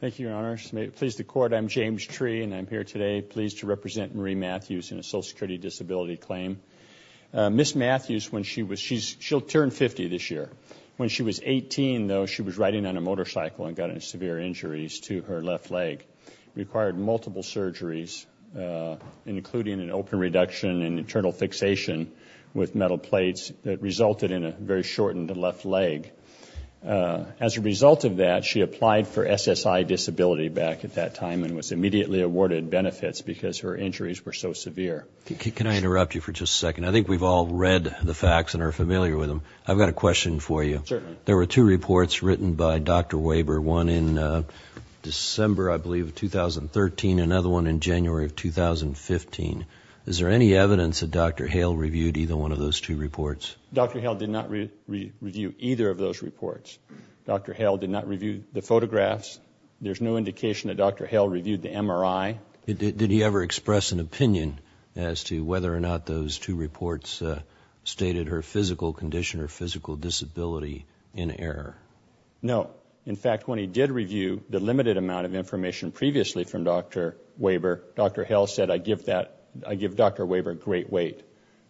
Thank you, Your Honor. Pleased to court, I'm James Tree and I'm here today pleased to represent Marie Mathews in a social security disability claim. Ms. Mathews, she'll turn 50 this year. When she was 18, though, she was riding on a motorcycle and got severe injuries to her left leg. Required multiple surgeries, including an open reduction and internal fixation with As a result of that, she applied for SSI disability back at that time and was immediately awarded benefits because her injuries were so severe. Can I interrupt you for just a second? I think we've all read the facts and are familiar with them. I've got a question for you. There were two reports written by Dr. Weber, one in December, I believe, of 2013, another one in January of 2015. Is there any evidence that Dr. Hale reviewed either one of those two reports? Dr. Hale did not review either of those reports. Dr. Hale did not review the photographs. There's no indication that Dr. Hale reviewed the MRI. Did he ever express an opinion as to whether or not those two reports stated her physical condition or physical disability in error? No. In fact, when he did review the limited amount of information previously from Dr. Weber, Dr. Hale said, I give Dr. Weber great weight,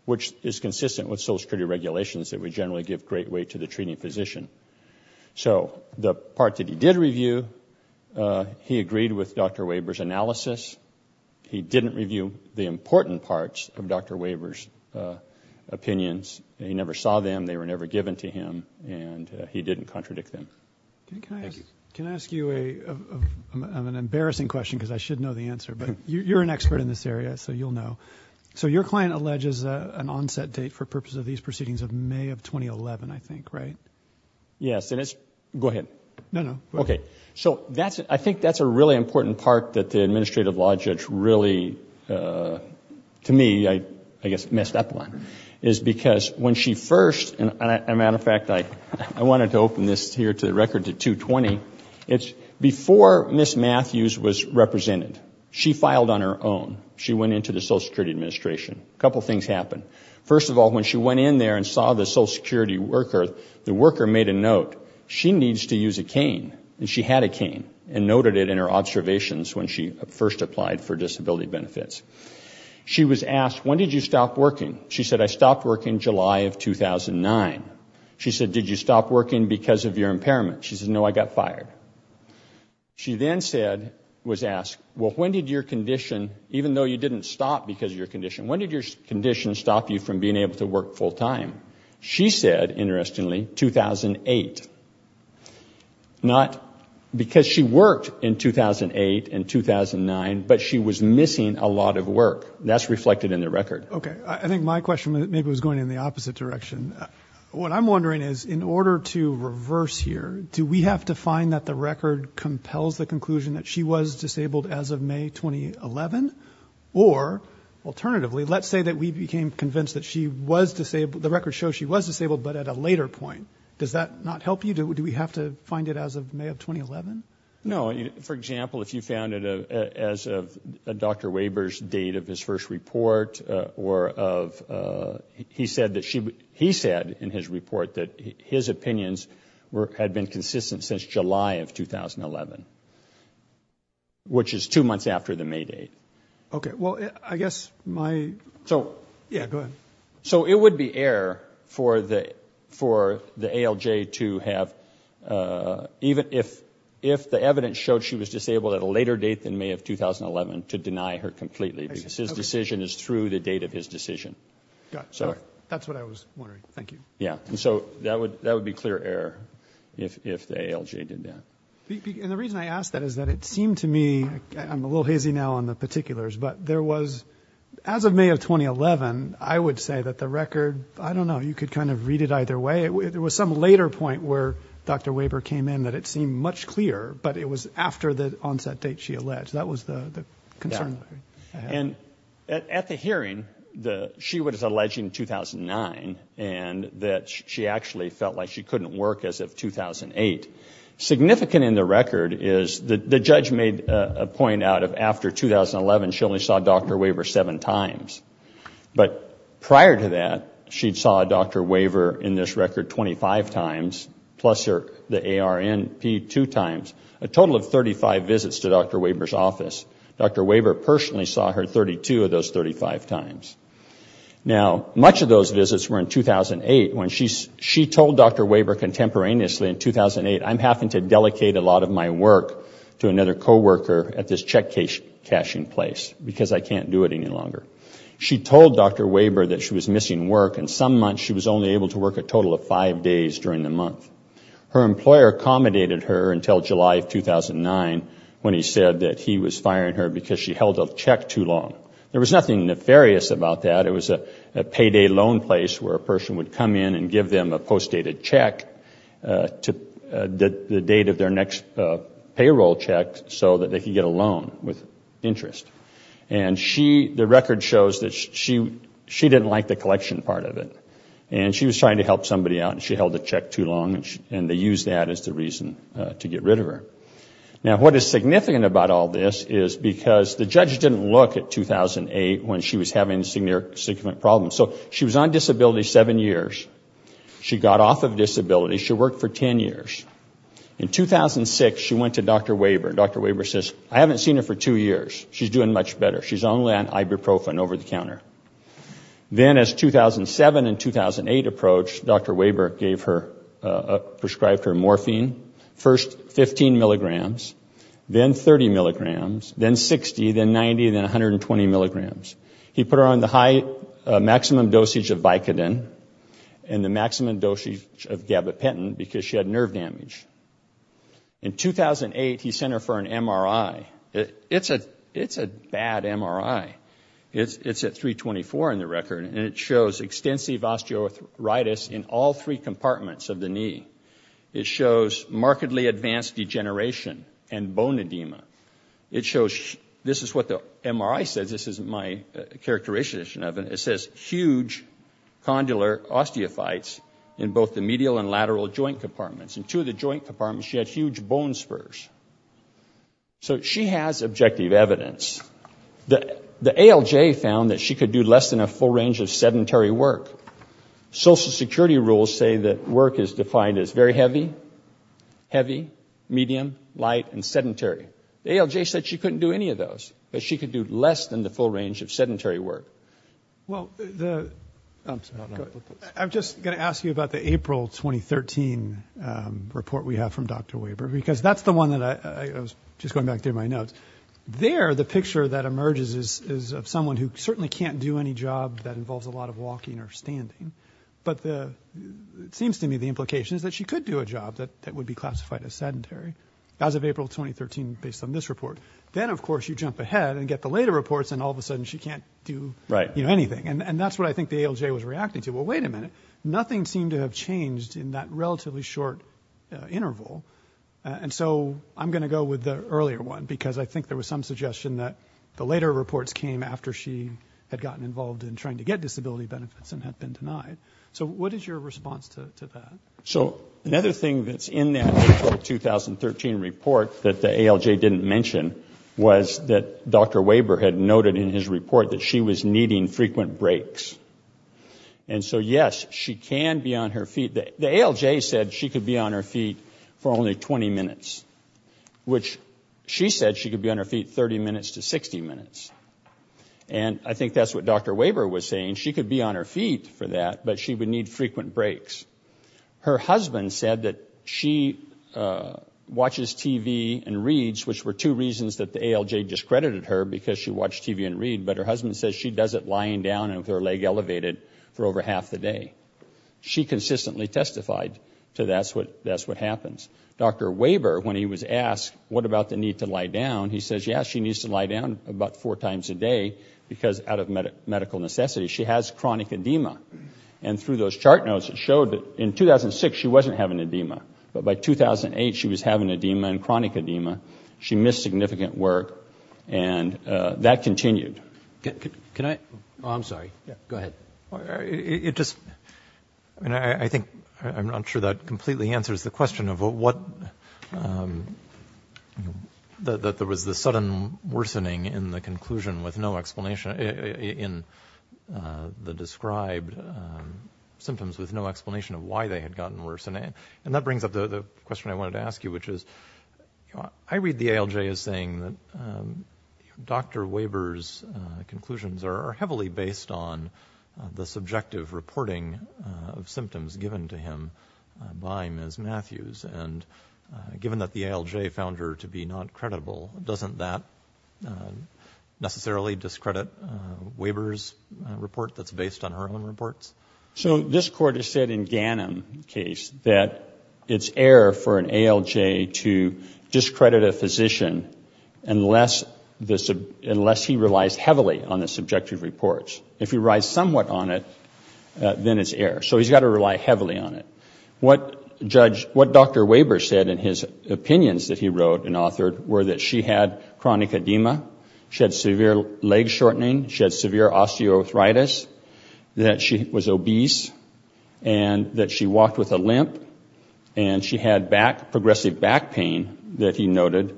which is consistent with Social Security regulations that we generally give great weight to the treating physician. So the part that he did review, he agreed with Dr. Weber's analysis. He didn't review the important parts of Dr. Weber's opinions. He never saw them. They were never given to him, and he didn't contradict them. Can I ask you an embarrassing question, because I should know the answer, but you're an expert in this area, so you'll know. Your client alleges an onset date for purpose of these proceedings of May of 2011, I think, right? Yes. Go ahead. No, no. Okay. I think that's a really important part that the administrative law judge really, to me, I guess, messed up on, is because when she first, and as a matter of fact, I wanted to open this here to the record to 220. It's before Ms. Matthews was represented. She filed on her own. She went into the Social Security Administration. A couple things happened. First of all, when she went in there and saw the Social Security worker, the worker made a note. She needs to use a cane, and she had a cane and noted it in her observations when she first applied for disability benefits. She was asked, when did you stop working? She said, I stopped working July of 2009. She said, did you stop working because of your impairment? She said, no, I got fired. She then said, was asked, well, when did your condition, even though you didn't stop because of your condition, when did your condition stop you from being able to work full time? She said, interestingly, 2008. Not because she worked in 2008 and 2009, but she was missing a lot of work. That's reflected in the record. Okay. I think my question maybe was going in the opposite direction. What I'm wondering is, in order to reverse here, do we have to find that the record compels the conclusion that she was disabled as of May 2011? Or, alternatively, let's say that we became convinced that she was disabled. The record shows she was disabled, but at a later point. Does that not help you? Do we have to find it as of May of 2011? No. For example, if you found it as of Dr. Weber's date of his first report, or of, he said in his report that his opinions had been consistent since July of 2011, which is two months after the May date. Okay. Well, I guess my, yeah, go ahead. So it would be error for the ALJ to have, even if the evidence showed she was disabled at a later date than May of 2011, to deny her completely because his decision is through the date of his decision. Got it. That's what I was wondering. Thank you. Yeah. So that would be clear error if the ALJ did that. And the reason I ask that is that it seemed to me, I'm a little hazy now on the particulars, but there was, as of May of 2011, I would say that the record, I don't know, you could kind of read it either way. There was some later point where Dr. Weber came in that it seemed much clearer, but it was after the onset date she alleged. That was the concern. And at the hearing, she was alleging 2009, and that she actually felt like she couldn't work as of 2008. Significant in the record is the judge made a point out of after 2011, she only saw Dr. Weber seven times. But prior to that, she saw Dr. Weber in this record 25 times, plus the ARNP two times, a total of 35 visits to Dr. Weber's office. Dr. Weber personally saw her 32 of those 35 times. Now, much of those visits were in 2008. She told Dr. Weber contemporaneously in 2008, I'm having to delegate a lot of my work to another coworker at this check cashing place because I can't do it any longer. She told Dr. Weber that she was missing work, and some months she was only able to work a total of five days during the month. Her employer accommodated her until July of 2009 when he said that he was firing her because she held a check too long. There was nothing nefarious about that. It was a payday loan place where a person would come in and give them a postdated check to the date of their next payroll check so that they could get a loan with interest. And the record shows that she didn't like the collection part of it. And she was trying to help somebody out, and she held the check too long, and they used that as the reason to get rid of her. Now, what is significant about all this is because the judge didn't look at 2008 when she was having significant problems. So she was on disability seven years. She got off of disability. She worked for ten years. In 2006, she went to Dr. Weber, and Dr. Weber says, I haven't seen her for two years. She's doing much better. She's only on ibuprofen over-the-counter. Then as 2007 and 2008 approached, Dr. Weber prescribed her morphine, first 15 milligrams, then 30 milligrams, then 60, then 90, then 120 milligrams. He put her on the maximum dosage of Vicodin and the maximum dosage of gabapentin because she had nerve damage. In 2008, he sent her for an MRI. It's a bad MRI. It's at 324 in the record, and it shows extensive osteoarthritis in all three compartments of the knee. It shows markedly advanced degeneration and bone edema. This is what the MRI says. This isn't my characterization of it. It says huge condylar osteophytes in both the medial and lateral joint compartments. In two of the joint compartments, she had huge bone spurs. So she has objective evidence. The ALJ found that she could do less than a full range of sedentary work. Social Security rules say that work is defined as very heavy, heavy, medium, light, and sedentary. The ALJ said she couldn't do any of those, but she could do less than the full range of sedentary work. I'm just going to ask you about the April 2013 report we have from Dr. Weber because that's the one that I was just going back through my notes. There, the picture that emerges is of someone who certainly can't do any job that involves a lot of walking or standing, but it seems to me the implication is that she could do a job that would be classified as sedentary as of April 2013 based on this report. Then, of course, you jump ahead and get the later reports, and all of a sudden she can't do anything, and that's what I think the ALJ was reacting to. Well, wait a minute. Nothing seemed to have changed in that relatively short interval, and so I'm going to go with the earlier one because I think there was some suggestion that the later reports came after she had gotten involved in trying to get disability benefits and had been denied. So what is your response to that? So another thing that's in that April 2013 report that the ALJ didn't mention was that Dr. Weber had noted in his report that she was needing frequent breaks, and so, yes, she can be on her feet. The ALJ said she could be on her feet for only 20 minutes, which she said she could be on her feet 30 minutes to 60 minutes, and I think that's what Dr. Weber was saying. She could be on her feet for that, but she would need frequent breaks. Her husband said that she watches TV and reads, which were two reasons that the ALJ discredited her because she watched TV and read, but her husband says she does it lying down and with her leg elevated for over half the day. She consistently testified to that's what happens. Dr. Weber, when he was asked what about the need to lie down, he says, yes, she needs to lie down about four times a day because, out of medical necessity, she has chronic edema. And through those chart notes, it showed that in 2006 she wasn't having edema, but by 2008 she was having edema and chronic edema. She missed significant work, and that continued. Can I? Oh, I'm sorry. Go ahead. It just, I mean, I think I'm not sure that completely answers the question of what, that there was the sudden worsening in the conclusion with no explanation, in the described symptoms with no explanation of why they had gotten worse. And that brings up the question I wanted to ask you, which is, I read the ALJ as saying that Dr. Weber's conclusions are heavily based on the subjective reporting of symptoms given to him by Ms. Matthews, and given that the ALJ found her to be not credible, doesn't that necessarily discredit Weber's report that's based on her own reports? So this court has said in Ghanem's case that it's error for an ALJ to discredit a physician unless he relies heavily on the subjective reports. If he relies somewhat on it, then it's error. So he's got to rely heavily on it. What Dr. Weber said in his opinions that he wrote and authored were that she had chronic edema, she had severe leg shortening, she had severe osteoarthritis, that she was obese, and that she walked with a limp, and she had progressive back pain that he noted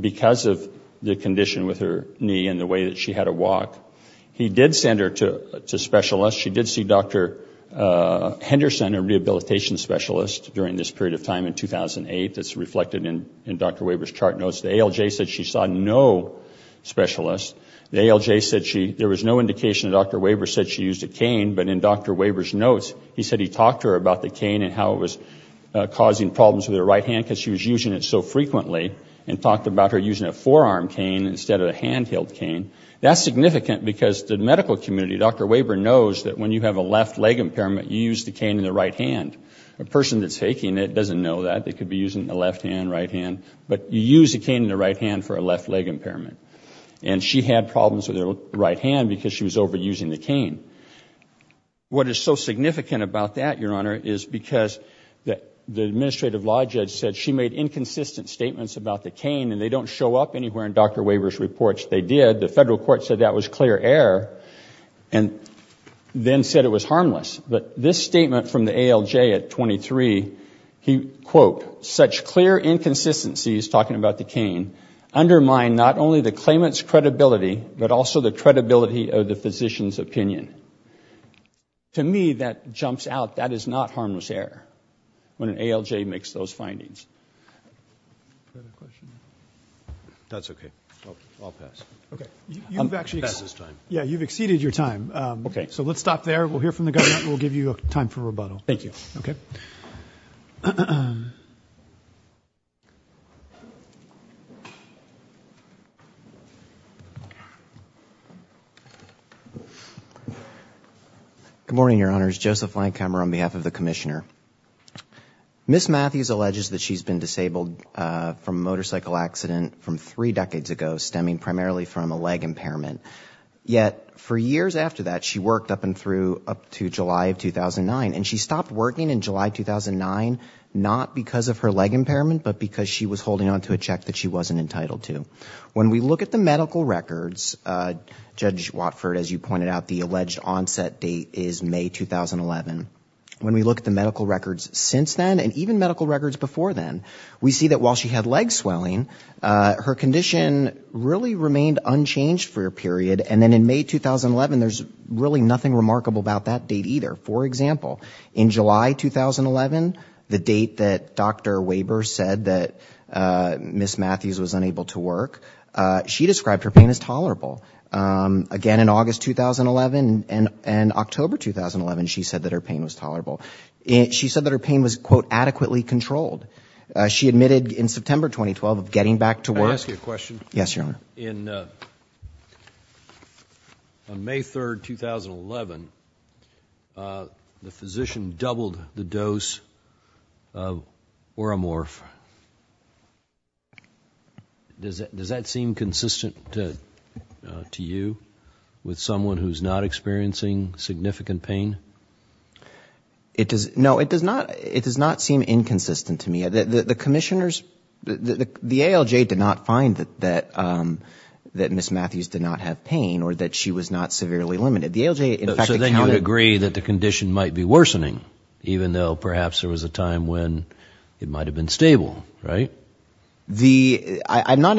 because of the condition with her knee and the way that she had to walk. He did send her to specialists. She did see Dr. Henderson, a rehabilitation specialist, during this period of time in 2008. That's reflected in Dr. Weber's chart notes. The ALJ said she saw no specialist. The ALJ said there was no indication that Dr. Weber said she used a cane, but in Dr. Weber's notes he said he talked to her about the cane and how it was causing problems with her right hand because she was using it so frequently, and talked about her using a forearm cane instead of a hand-held cane. That's significant because the medical community, Dr. Weber, knows that when you have a left leg impairment, you use the cane in the right hand. A person that's faking it doesn't know that. They could be using the left hand, right hand, but you use the cane in the right hand for a left leg impairment. And she had problems with her right hand because she was overusing the cane. What is so significant about that, Your Honor, is because the administrative law judge said she made inconsistent statements about the cane and they don't show up anywhere in Dr. Weber's reports. They did. The federal court said that was clear error and then said it was harmless. But this statement from the ALJ at 23, he, quote, such clear inconsistencies, talking about the cane, undermine not only the claimant's credibility, but also the credibility of the physician's opinion. To me, that jumps out. That is not harmless error when an ALJ makes those findings. That's okay. I'll pass. Okay. You've exceeded your time. So let's stop there. We'll hear from the government and we'll give you time for rebuttal. Thank you. Okay. Good morning, Your Honors. Joseph Langhammer on behalf of the commissioner. Ms. Matthews alleges that she's been disabled from a motorcycle accident from three decades ago, stemming primarily from a leg impairment. Yet for years after that, she worked up and through up to July of 2009, and she stopped working in July 2009 not because of her leg impairment, but because she was holding on to a check that she wasn't entitled to. When we look at the medical records, Judge Watford, as you pointed out, the alleged onset date is May 2011. When we look at the medical records since then and even medical records before then, we see that while she had leg swelling, her condition really remained unchanged for a period. And then in May 2011, there's really nothing remarkable about that date either. For example, in July 2011, the date that Dr. Weber said that Ms. Matthews was unable to work, she described her pain as tolerable. Again, in August 2011 and October 2011, she said that her pain was tolerable. She said that her pain was, quote, adequately controlled. She admitted in September 2012 of getting back to work. Yes, Your Honor. Your Honor, on May 3, 2011, the physician doubled the dose of Oromorph. Does that seem consistent to you with someone who's not experiencing significant pain? No, it does not seem inconsistent to me. The commissioners, the ALJ did not find that Ms. Matthews did not have pain or that she was not severely limited. So then you would agree that the condition might be worsening, even though perhaps there was a time when it might have been stable, right? I'm not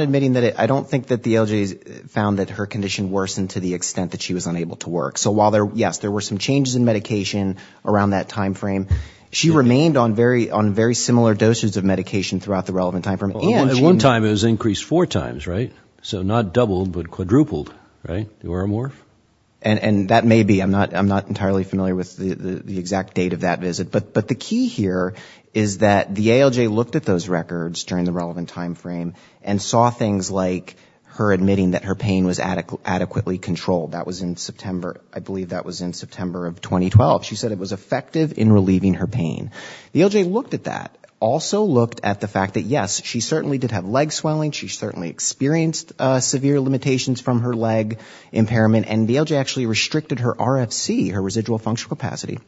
admitting that. I don't think that the ALJ found that her condition worsened to the extent that she was unable to work. So while, yes, there were some changes in medication around that time frame, she remained on very similar doses of medication throughout the relevant time frame. At one time it was increased four times, right? So not doubled, but quadrupled, right, the Oromorph? And that may be. I'm not entirely familiar with the exact date of that visit. But the key here is that the ALJ looked at those records during the relevant time frame and saw things like her admitting that her pain was adequately controlled. That was in September. I believe that was in September of 2012. She said it was effective in relieving her pain. The ALJ looked at that. Also looked at the fact that, yes, she certainly did have leg swelling. She certainly experienced severe limitations from her leg impairment. And the ALJ actually restricted her RFC, her residual functional capacity,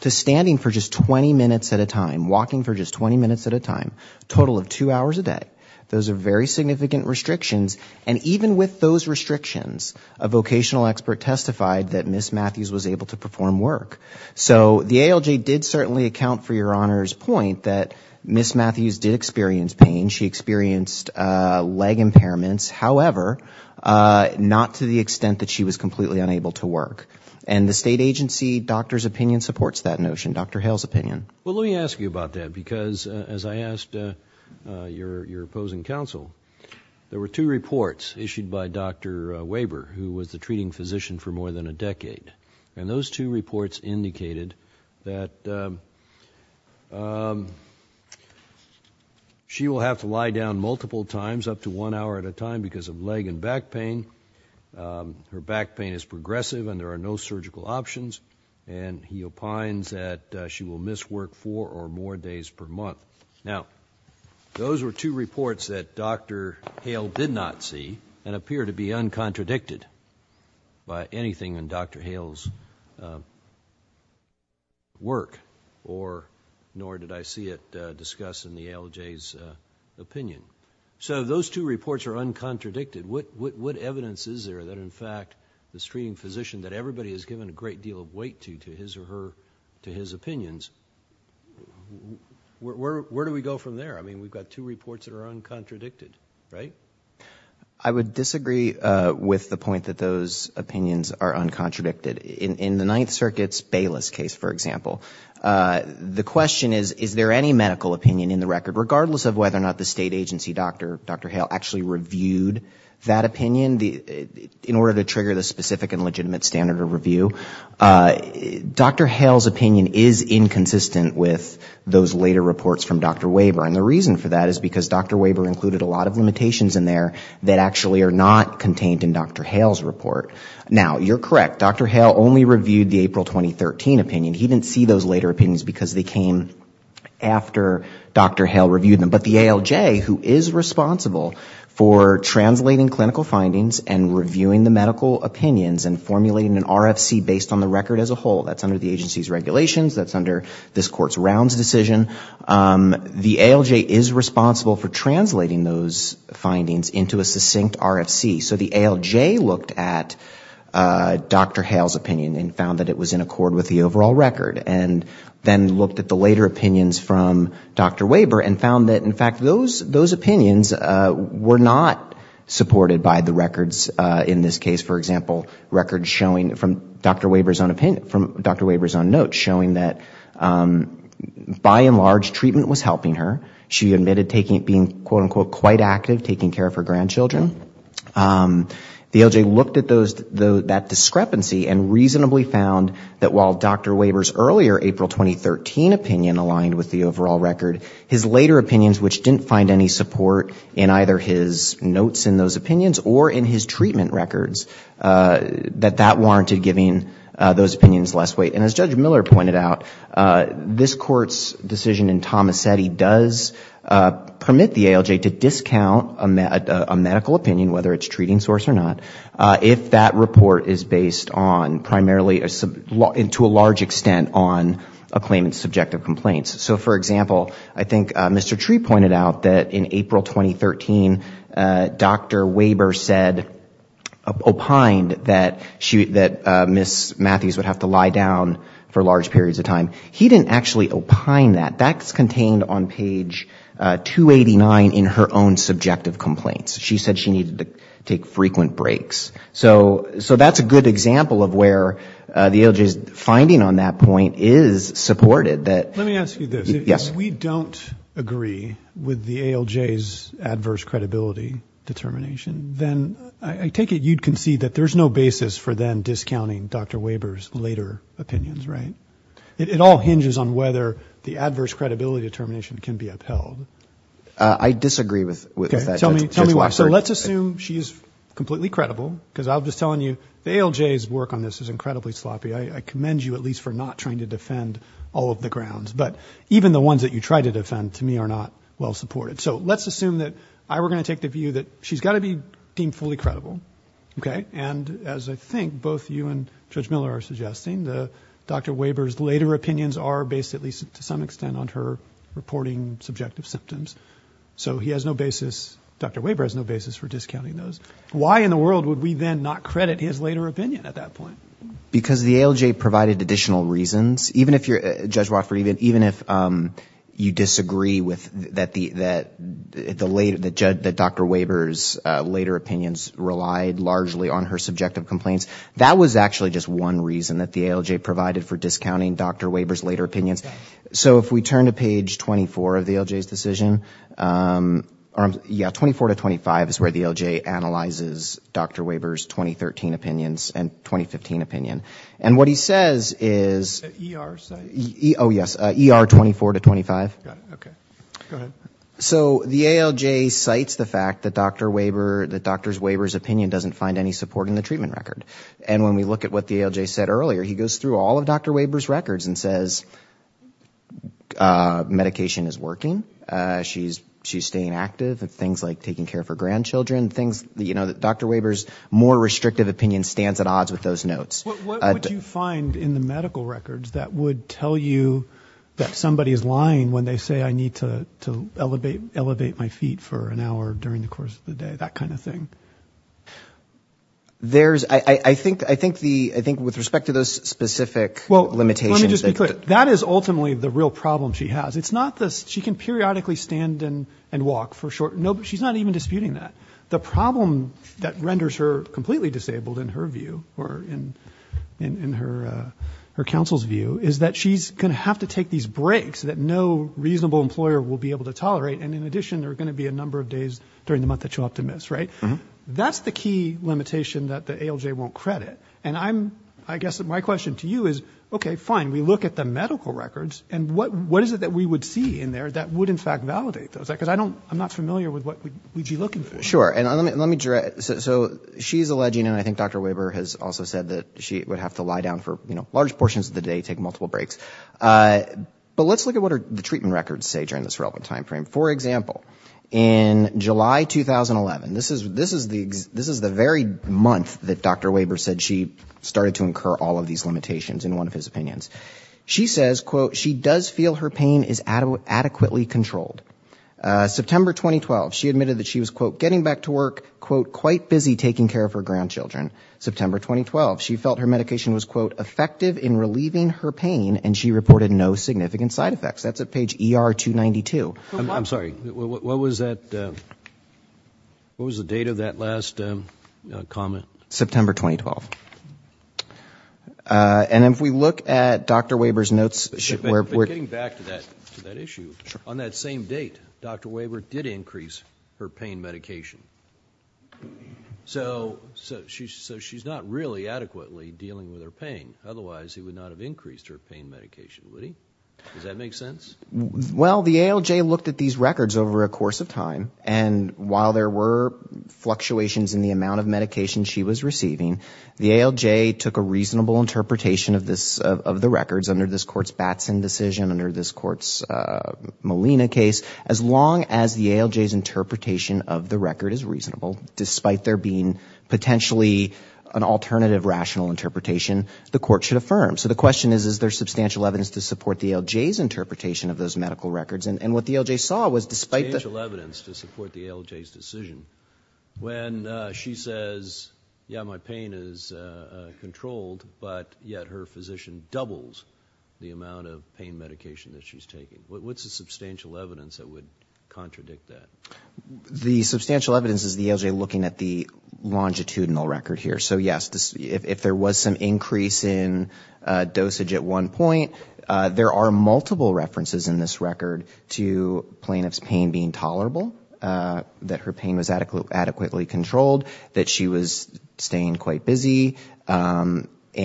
to standing for just 20 minutes at a time, walking for just 20 minutes at a time, a total of two hours a day. Those are very significant restrictions. And even with those restrictions, a vocational expert testified that Ms. Matthews was able to perform work. So the ALJ did certainly account for Your Honor's point that Ms. Matthews did experience pain. She experienced leg impairments. However, not to the extent that she was completely unable to work. And the state agency doctor's opinion supports that notion, Dr. Hale's opinion. Well, let me ask you about that because, as I asked your opposing counsel, there were two reports issued by Dr. Weber, who was the treating physician for more than a decade. And those two reports indicated that she will have to lie down multiple times, up to one hour at a time, because of leg and back pain. Her back pain is progressive and there are no surgical options. And he opines that she will miss work four or more days per month. Now, those were two reports that Dr. Hale did not see and appear to be uncontradicted by anything in Dr. Hale's work, nor did I see it discussed in the ALJ's opinion. So those two reports are uncontradicted. What evidence is there that, in fact, the treating physician that everybody has given a great deal of weight to, to his or her opinions, where do we go from there? I mean, we've got two reports that are uncontradicted, right? I would disagree with the point that those opinions are uncontradicted. In the Ninth Circuit's Bayless case, for example, the question is, is there any medical opinion in the record, regardless of whether or not the state agency doctor, Dr. Hale, actually reviewed that opinion, in order to trigger the specific and legitimate standard of review? Dr. Hale's opinion is inconsistent with those later reports from Dr. Weber. And the reason for that is because Dr. Weber included a lot of limitations in there that actually are not contained in Dr. Hale's report. Now, you're correct, Dr. Hale only reviewed the April 2013 opinion. He didn't see those later opinions because they came after Dr. Hale reviewed them. But the ALJ, who is responsible for translating clinical findings and reviewing the medical opinions and formulating an RFC based on the record as a whole, that's under the agency's regulations, that's under this court's rounds decision, the ALJ is responsible for translating those findings into a succinct RFC. So the ALJ looked at Dr. Hale's opinion and found that it was in accord with the overall record, and then looked at the later opinions from Dr. Weber and found that, in fact, those opinions were not supported by the records in this case. For example, records showing from Dr. Weber's own notes, showing that, by and large, treatment was helping her. She admitted being, quote, unquote, quite active taking care of her grandchildren. The ALJ looked at that discrepancy and reasonably found that while Dr. Weber's earlier April 2013 opinion aligned with the overall record, his later opinions, which didn't find any support in either his notes in those opinions or in his treatment records, that that warranted giving those opinions less weight. And as Judge Miller pointed out, this court's decision in Tomasetti does permit the ALJ to discount a medical opinion, whether it's treating source or not, if that report is based on primarily, to a large extent, on a claimant's subjective complaints. So, for example, I think Mr. Tree pointed out that in April 2013, Dr. Weber opined that Ms. Matthews would have to lie down for large periods of time. He didn't actually opine that. That's contained on page 289 in her own subjective complaints. She said she needed to take frequent breaks. So that's a good example of where the ALJ's finding on that point is supported. That we don't agree with the ALJ's adverse credibility determination, then I take it you'd concede that there's no basis for then discounting Dr. Weber's later opinions, right? It all hinges on whether the adverse credibility determination can be upheld. I disagree with that. So let's assume she's completely credible, because I'm just telling you the ALJ's work on this is incredibly sloppy. I commend you at least for not trying to defend all of the grounds. But even the ones that you try to defend, to me, are not well supported. So let's assume that I were going to take the view that she's got to be deemed fully credible. And as I think both you and Judge Miller are suggesting, Dr. Weber's later opinions are based at least to some extent on her reporting subjective symptoms. So Dr. Weber has no basis for discounting those. Why in the world would we then not credit his later opinion at that point? Because the ALJ provided additional reasons. Judge Wofford, even if you disagree that Dr. Weber's later opinions relied largely on her subjective complaints, that was actually just one reason that the ALJ provided for discounting Dr. Weber's later opinions. So if we turn to page 24 of the ALJ's decision, yeah, 24 to 25 is where the ALJ analyzes Dr. Weber's 2013 opinions and 2015 opinions. And what he says is... Oh, yes, ER 24 to 25. So the ALJ cites the fact that Dr. Weber's opinion doesn't find any support in the treatment record. And when we look at what the ALJ said earlier, he goes through all of Dr. Weber's records and says, medication is working. She's staying active. Things like taking care of her grandchildren, things, you know, Dr. Weber's more restrictive opinion stands at odds with those notes. What would you find in the medical records that would tell you that somebody is lying when they say, I need to elevate my feet for an hour during the course of the day, that kind of thing? I think with respect to those specific limitations... That is ultimately the real problem she has. She can periodically stand and walk for a short... She's not even disputing that. The problem that renders her completely disabled, in her view, or in her counsel's view, is that she's going to have to take these breaks that no reasonable employer will be able to tolerate. And in addition, there are going to be a number of days during the month that you have to miss, right? That's the key limitation that the ALJ won't credit. And I guess my question to you is, okay, fine, we look at the medical records, and what is it that we would see in there that would in fact validate those? Because I'm not familiar with what we'd be looking for. Sure. So she's alleging, and I think Dr. Weber has also said that she would have to lie down for large portions of the day, take multiple breaks. But let's look at what the treatment records say during this relevant time frame. For example, in July 2011, this is the very month that Dr. Weber said she started to incur all of these limitations, in one of his opinions. She says, quote, she does feel her pain is adequately controlled. September 2012, she admitted that she was, quote, getting back to work, quote, quite busy taking care of her grandchildren. September 2012, she felt her medication was, quote, effective in relieving her pain, and she reported no significant side effects. That's at page ER 292. I'm sorry, what was the date of that last comment? September 2012. And if we look at Dr. Weber's notes... Getting back to that issue, on that same date, Dr. Weber did increase her pain medication. So she's not really adequately dealing with her pain. Otherwise, he would not have increased her pain medication, would he? Does that make sense? Well, the ALJ looked at these records over a course of time, and while there were fluctuations in the amount of medication she was receiving, the ALJ took a reasonable interpretation of the records under this Court's Batson decision, under this Court's Molina case. As long as the ALJ's interpretation of the record is reasonable, despite there being potentially an alternative rational interpretation, the Court should affirm. So the question is, is there substantial evidence to support the ALJ's interpretation of those medical records? And what the ALJ saw was, despite the... Substantial evidence to support the ALJ's decision when she says, yeah, my pain is controlled, but yet her physician doubles the amount of pain medication that she's taking. What's the substantial evidence that would contradict that? The substantial evidence is the ALJ looking at the longitudinal record here. So yes, if there was some increase in dosage at one point, there are multiple references in this record to plaintiff's pain being tolerable, that her pain was adequately controlled, that she was staying quite busy,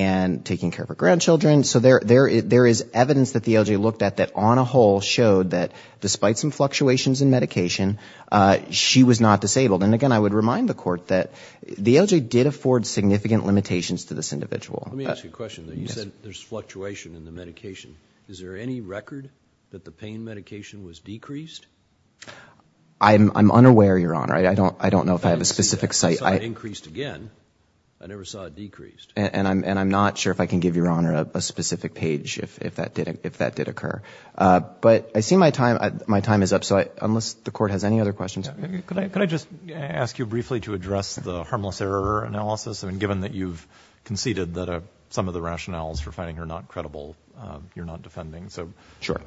and taking care of her grandchildren. So there is evidence that the ALJ looked at that, on a whole, showed that, despite some fluctuations in medication, she was not disabled. And again, I would remind the Court that the ALJ did afford significant limitations to this individual. Let me ask you a question. You said there's fluctuation in the medication. Is there any record that the pain medication was decreased? I'm unaware, Your Honor. I don't know if I have a specific site. I never saw it decreased. And I'm not sure if I can give Your Honor a specific page if that did occur. But I see my time is up, so unless the Court has any other questions. Could I just ask you briefly to address the harmless error analysis? I mean, given that you've conceded that some of the rationales for finding her not credible, you're not defending. Sure.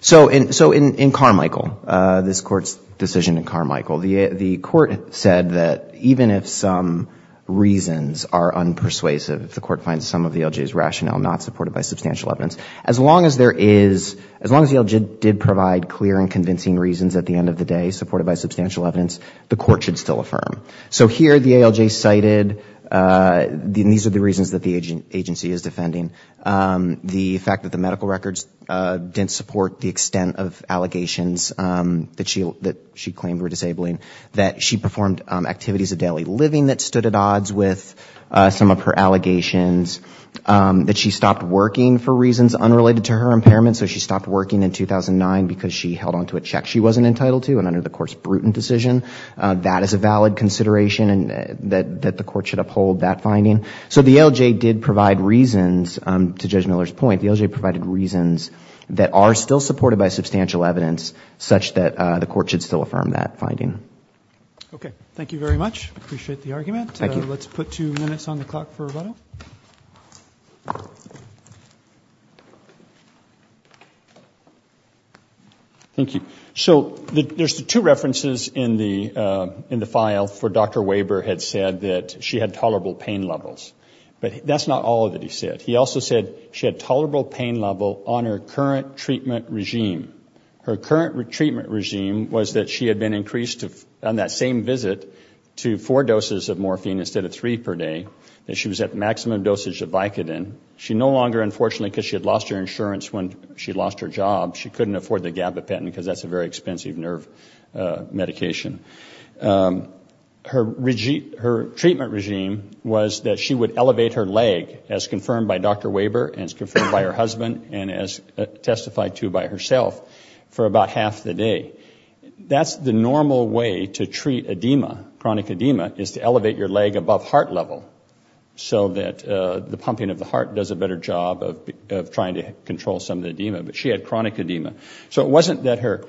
So in Carmichael, this Court's decision in Carmichael, the Court said that even if some reasons are unpersuasive, if the Court finds some of the ALJ's rationale not supported by substantial evidence, as long as the ALJ did provide clear and convincing reasons at the end of the day supported by substantial evidence, the Court should still affirm. So here the ALJ cited, and these are the reasons that the agency is defending, the fact that the medical records didn't support the extent of allegations that she claimed were disabling, that she performed activities of daily living that stood at odds with some of her allegations, that she stopped working for reasons unrelated to her impairment, so she stopped working in 2009 because she held on to a check she wasn't entitled to and under the Court's brutal decision. That is a valid consideration and that the Court should uphold that finding. So the ALJ did provide reasons, to Judge Miller's point, the ALJ provided reasons that are still supported by substantial evidence, such that the Court should still affirm that finding. Okay. Thank you very much. Appreciate the argument. Let's put two minutes on the clock for rebuttal. Thank you. So there's two references in the file for Dr. Weber had said that she had tolerable pain levels. But that's not all that he said. He also said she had tolerable pain level on her current treatment regime. Her current treatment regime was that she had been increased on that same visit to four doses of morphine instead of three per day, that she was at maximum dosage of Vicodin. She no longer, unfortunately, because she had lost her insurance when she lost her job, she couldn't afford the gabapentin because that's a very expensive nerve medication. Her treatment regime was that she would elevate her leg, as confirmed by Dr. Weber and as confirmed by her husband and as testified to by herself, for about half the day. That's the normal way to treat edema, chronic edema, is to elevate your leg above heart level, so that the pumping of the heart does a better job of trying to control some of the edema. But she had chronic edema. So it wasn't that her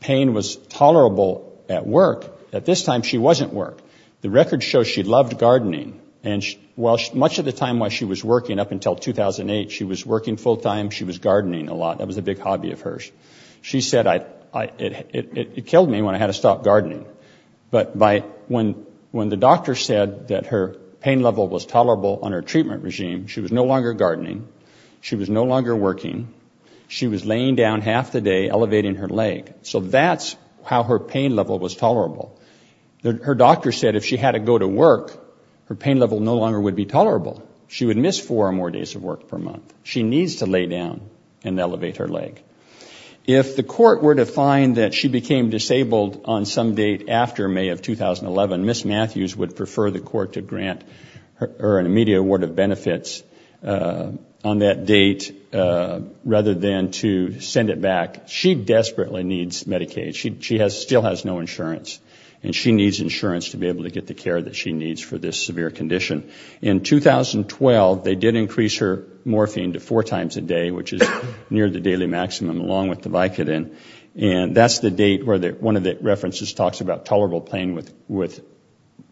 pain was tolerable at work. At this time, she wasn't at work. The record shows she loved gardening. And much of the time while she was working, up until 2008, she was working full time, she was gardening a lot. That was a big hobby of hers. She said it killed me when I had to stop gardening. But when the doctor said that her pain level was tolerable on her treatment regime, she was no longer gardening, she was no longer working, she was laying down half the day elevating her leg. Her doctor said if she had to go to work, her pain level no longer would be tolerable. She would miss four or more days of work per month. She needs to lay down and elevate her leg. If the court were to find that she became disabled on some date after May of 2011, Ms. Matthews would prefer the court to grant her an immediate award of benefits on that date, rather than to send it back. She desperately needs Medicaid. She still has no insurance and she needs insurance to be able to get the care that she needs for this severe condition. In 2012, they did increase her morphine to four times a day, which is near the daily maximum, along with the Vicodin. And that's the date where one of the references talks about tolerable pain with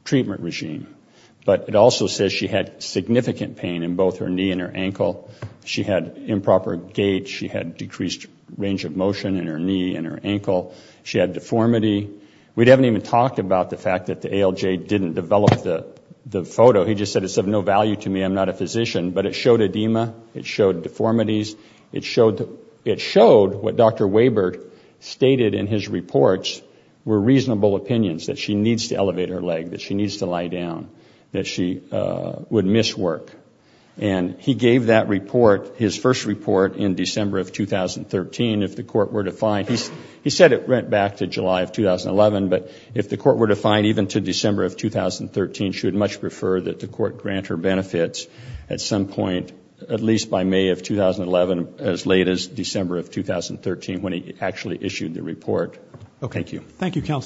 treatment regime. But it also says she had significant pain in both her knee and her ankle. She had improper gait, she had decreased range of motion in her knee and her ankle. She had deformity. We haven't even talked about the fact that the ALJ didn't develop the photo. He just said it's of no value to me, I'm not a physician. But it showed edema, it showed deformities, it showed what Dr. Weber stated in his reports were reasonable opinions, that she needs to elevate her leg, that she needs to lie down, that she would miss work. And he gave that report, his first report in December of 2013, if the court were to find, he said it went back to July of 2011, but if the court were to find even to December of 2013, she would much prefer that the court grant her benefits at some point, at least by May of 2011, as late as December of 2013 when he actually issued the report. Thank you.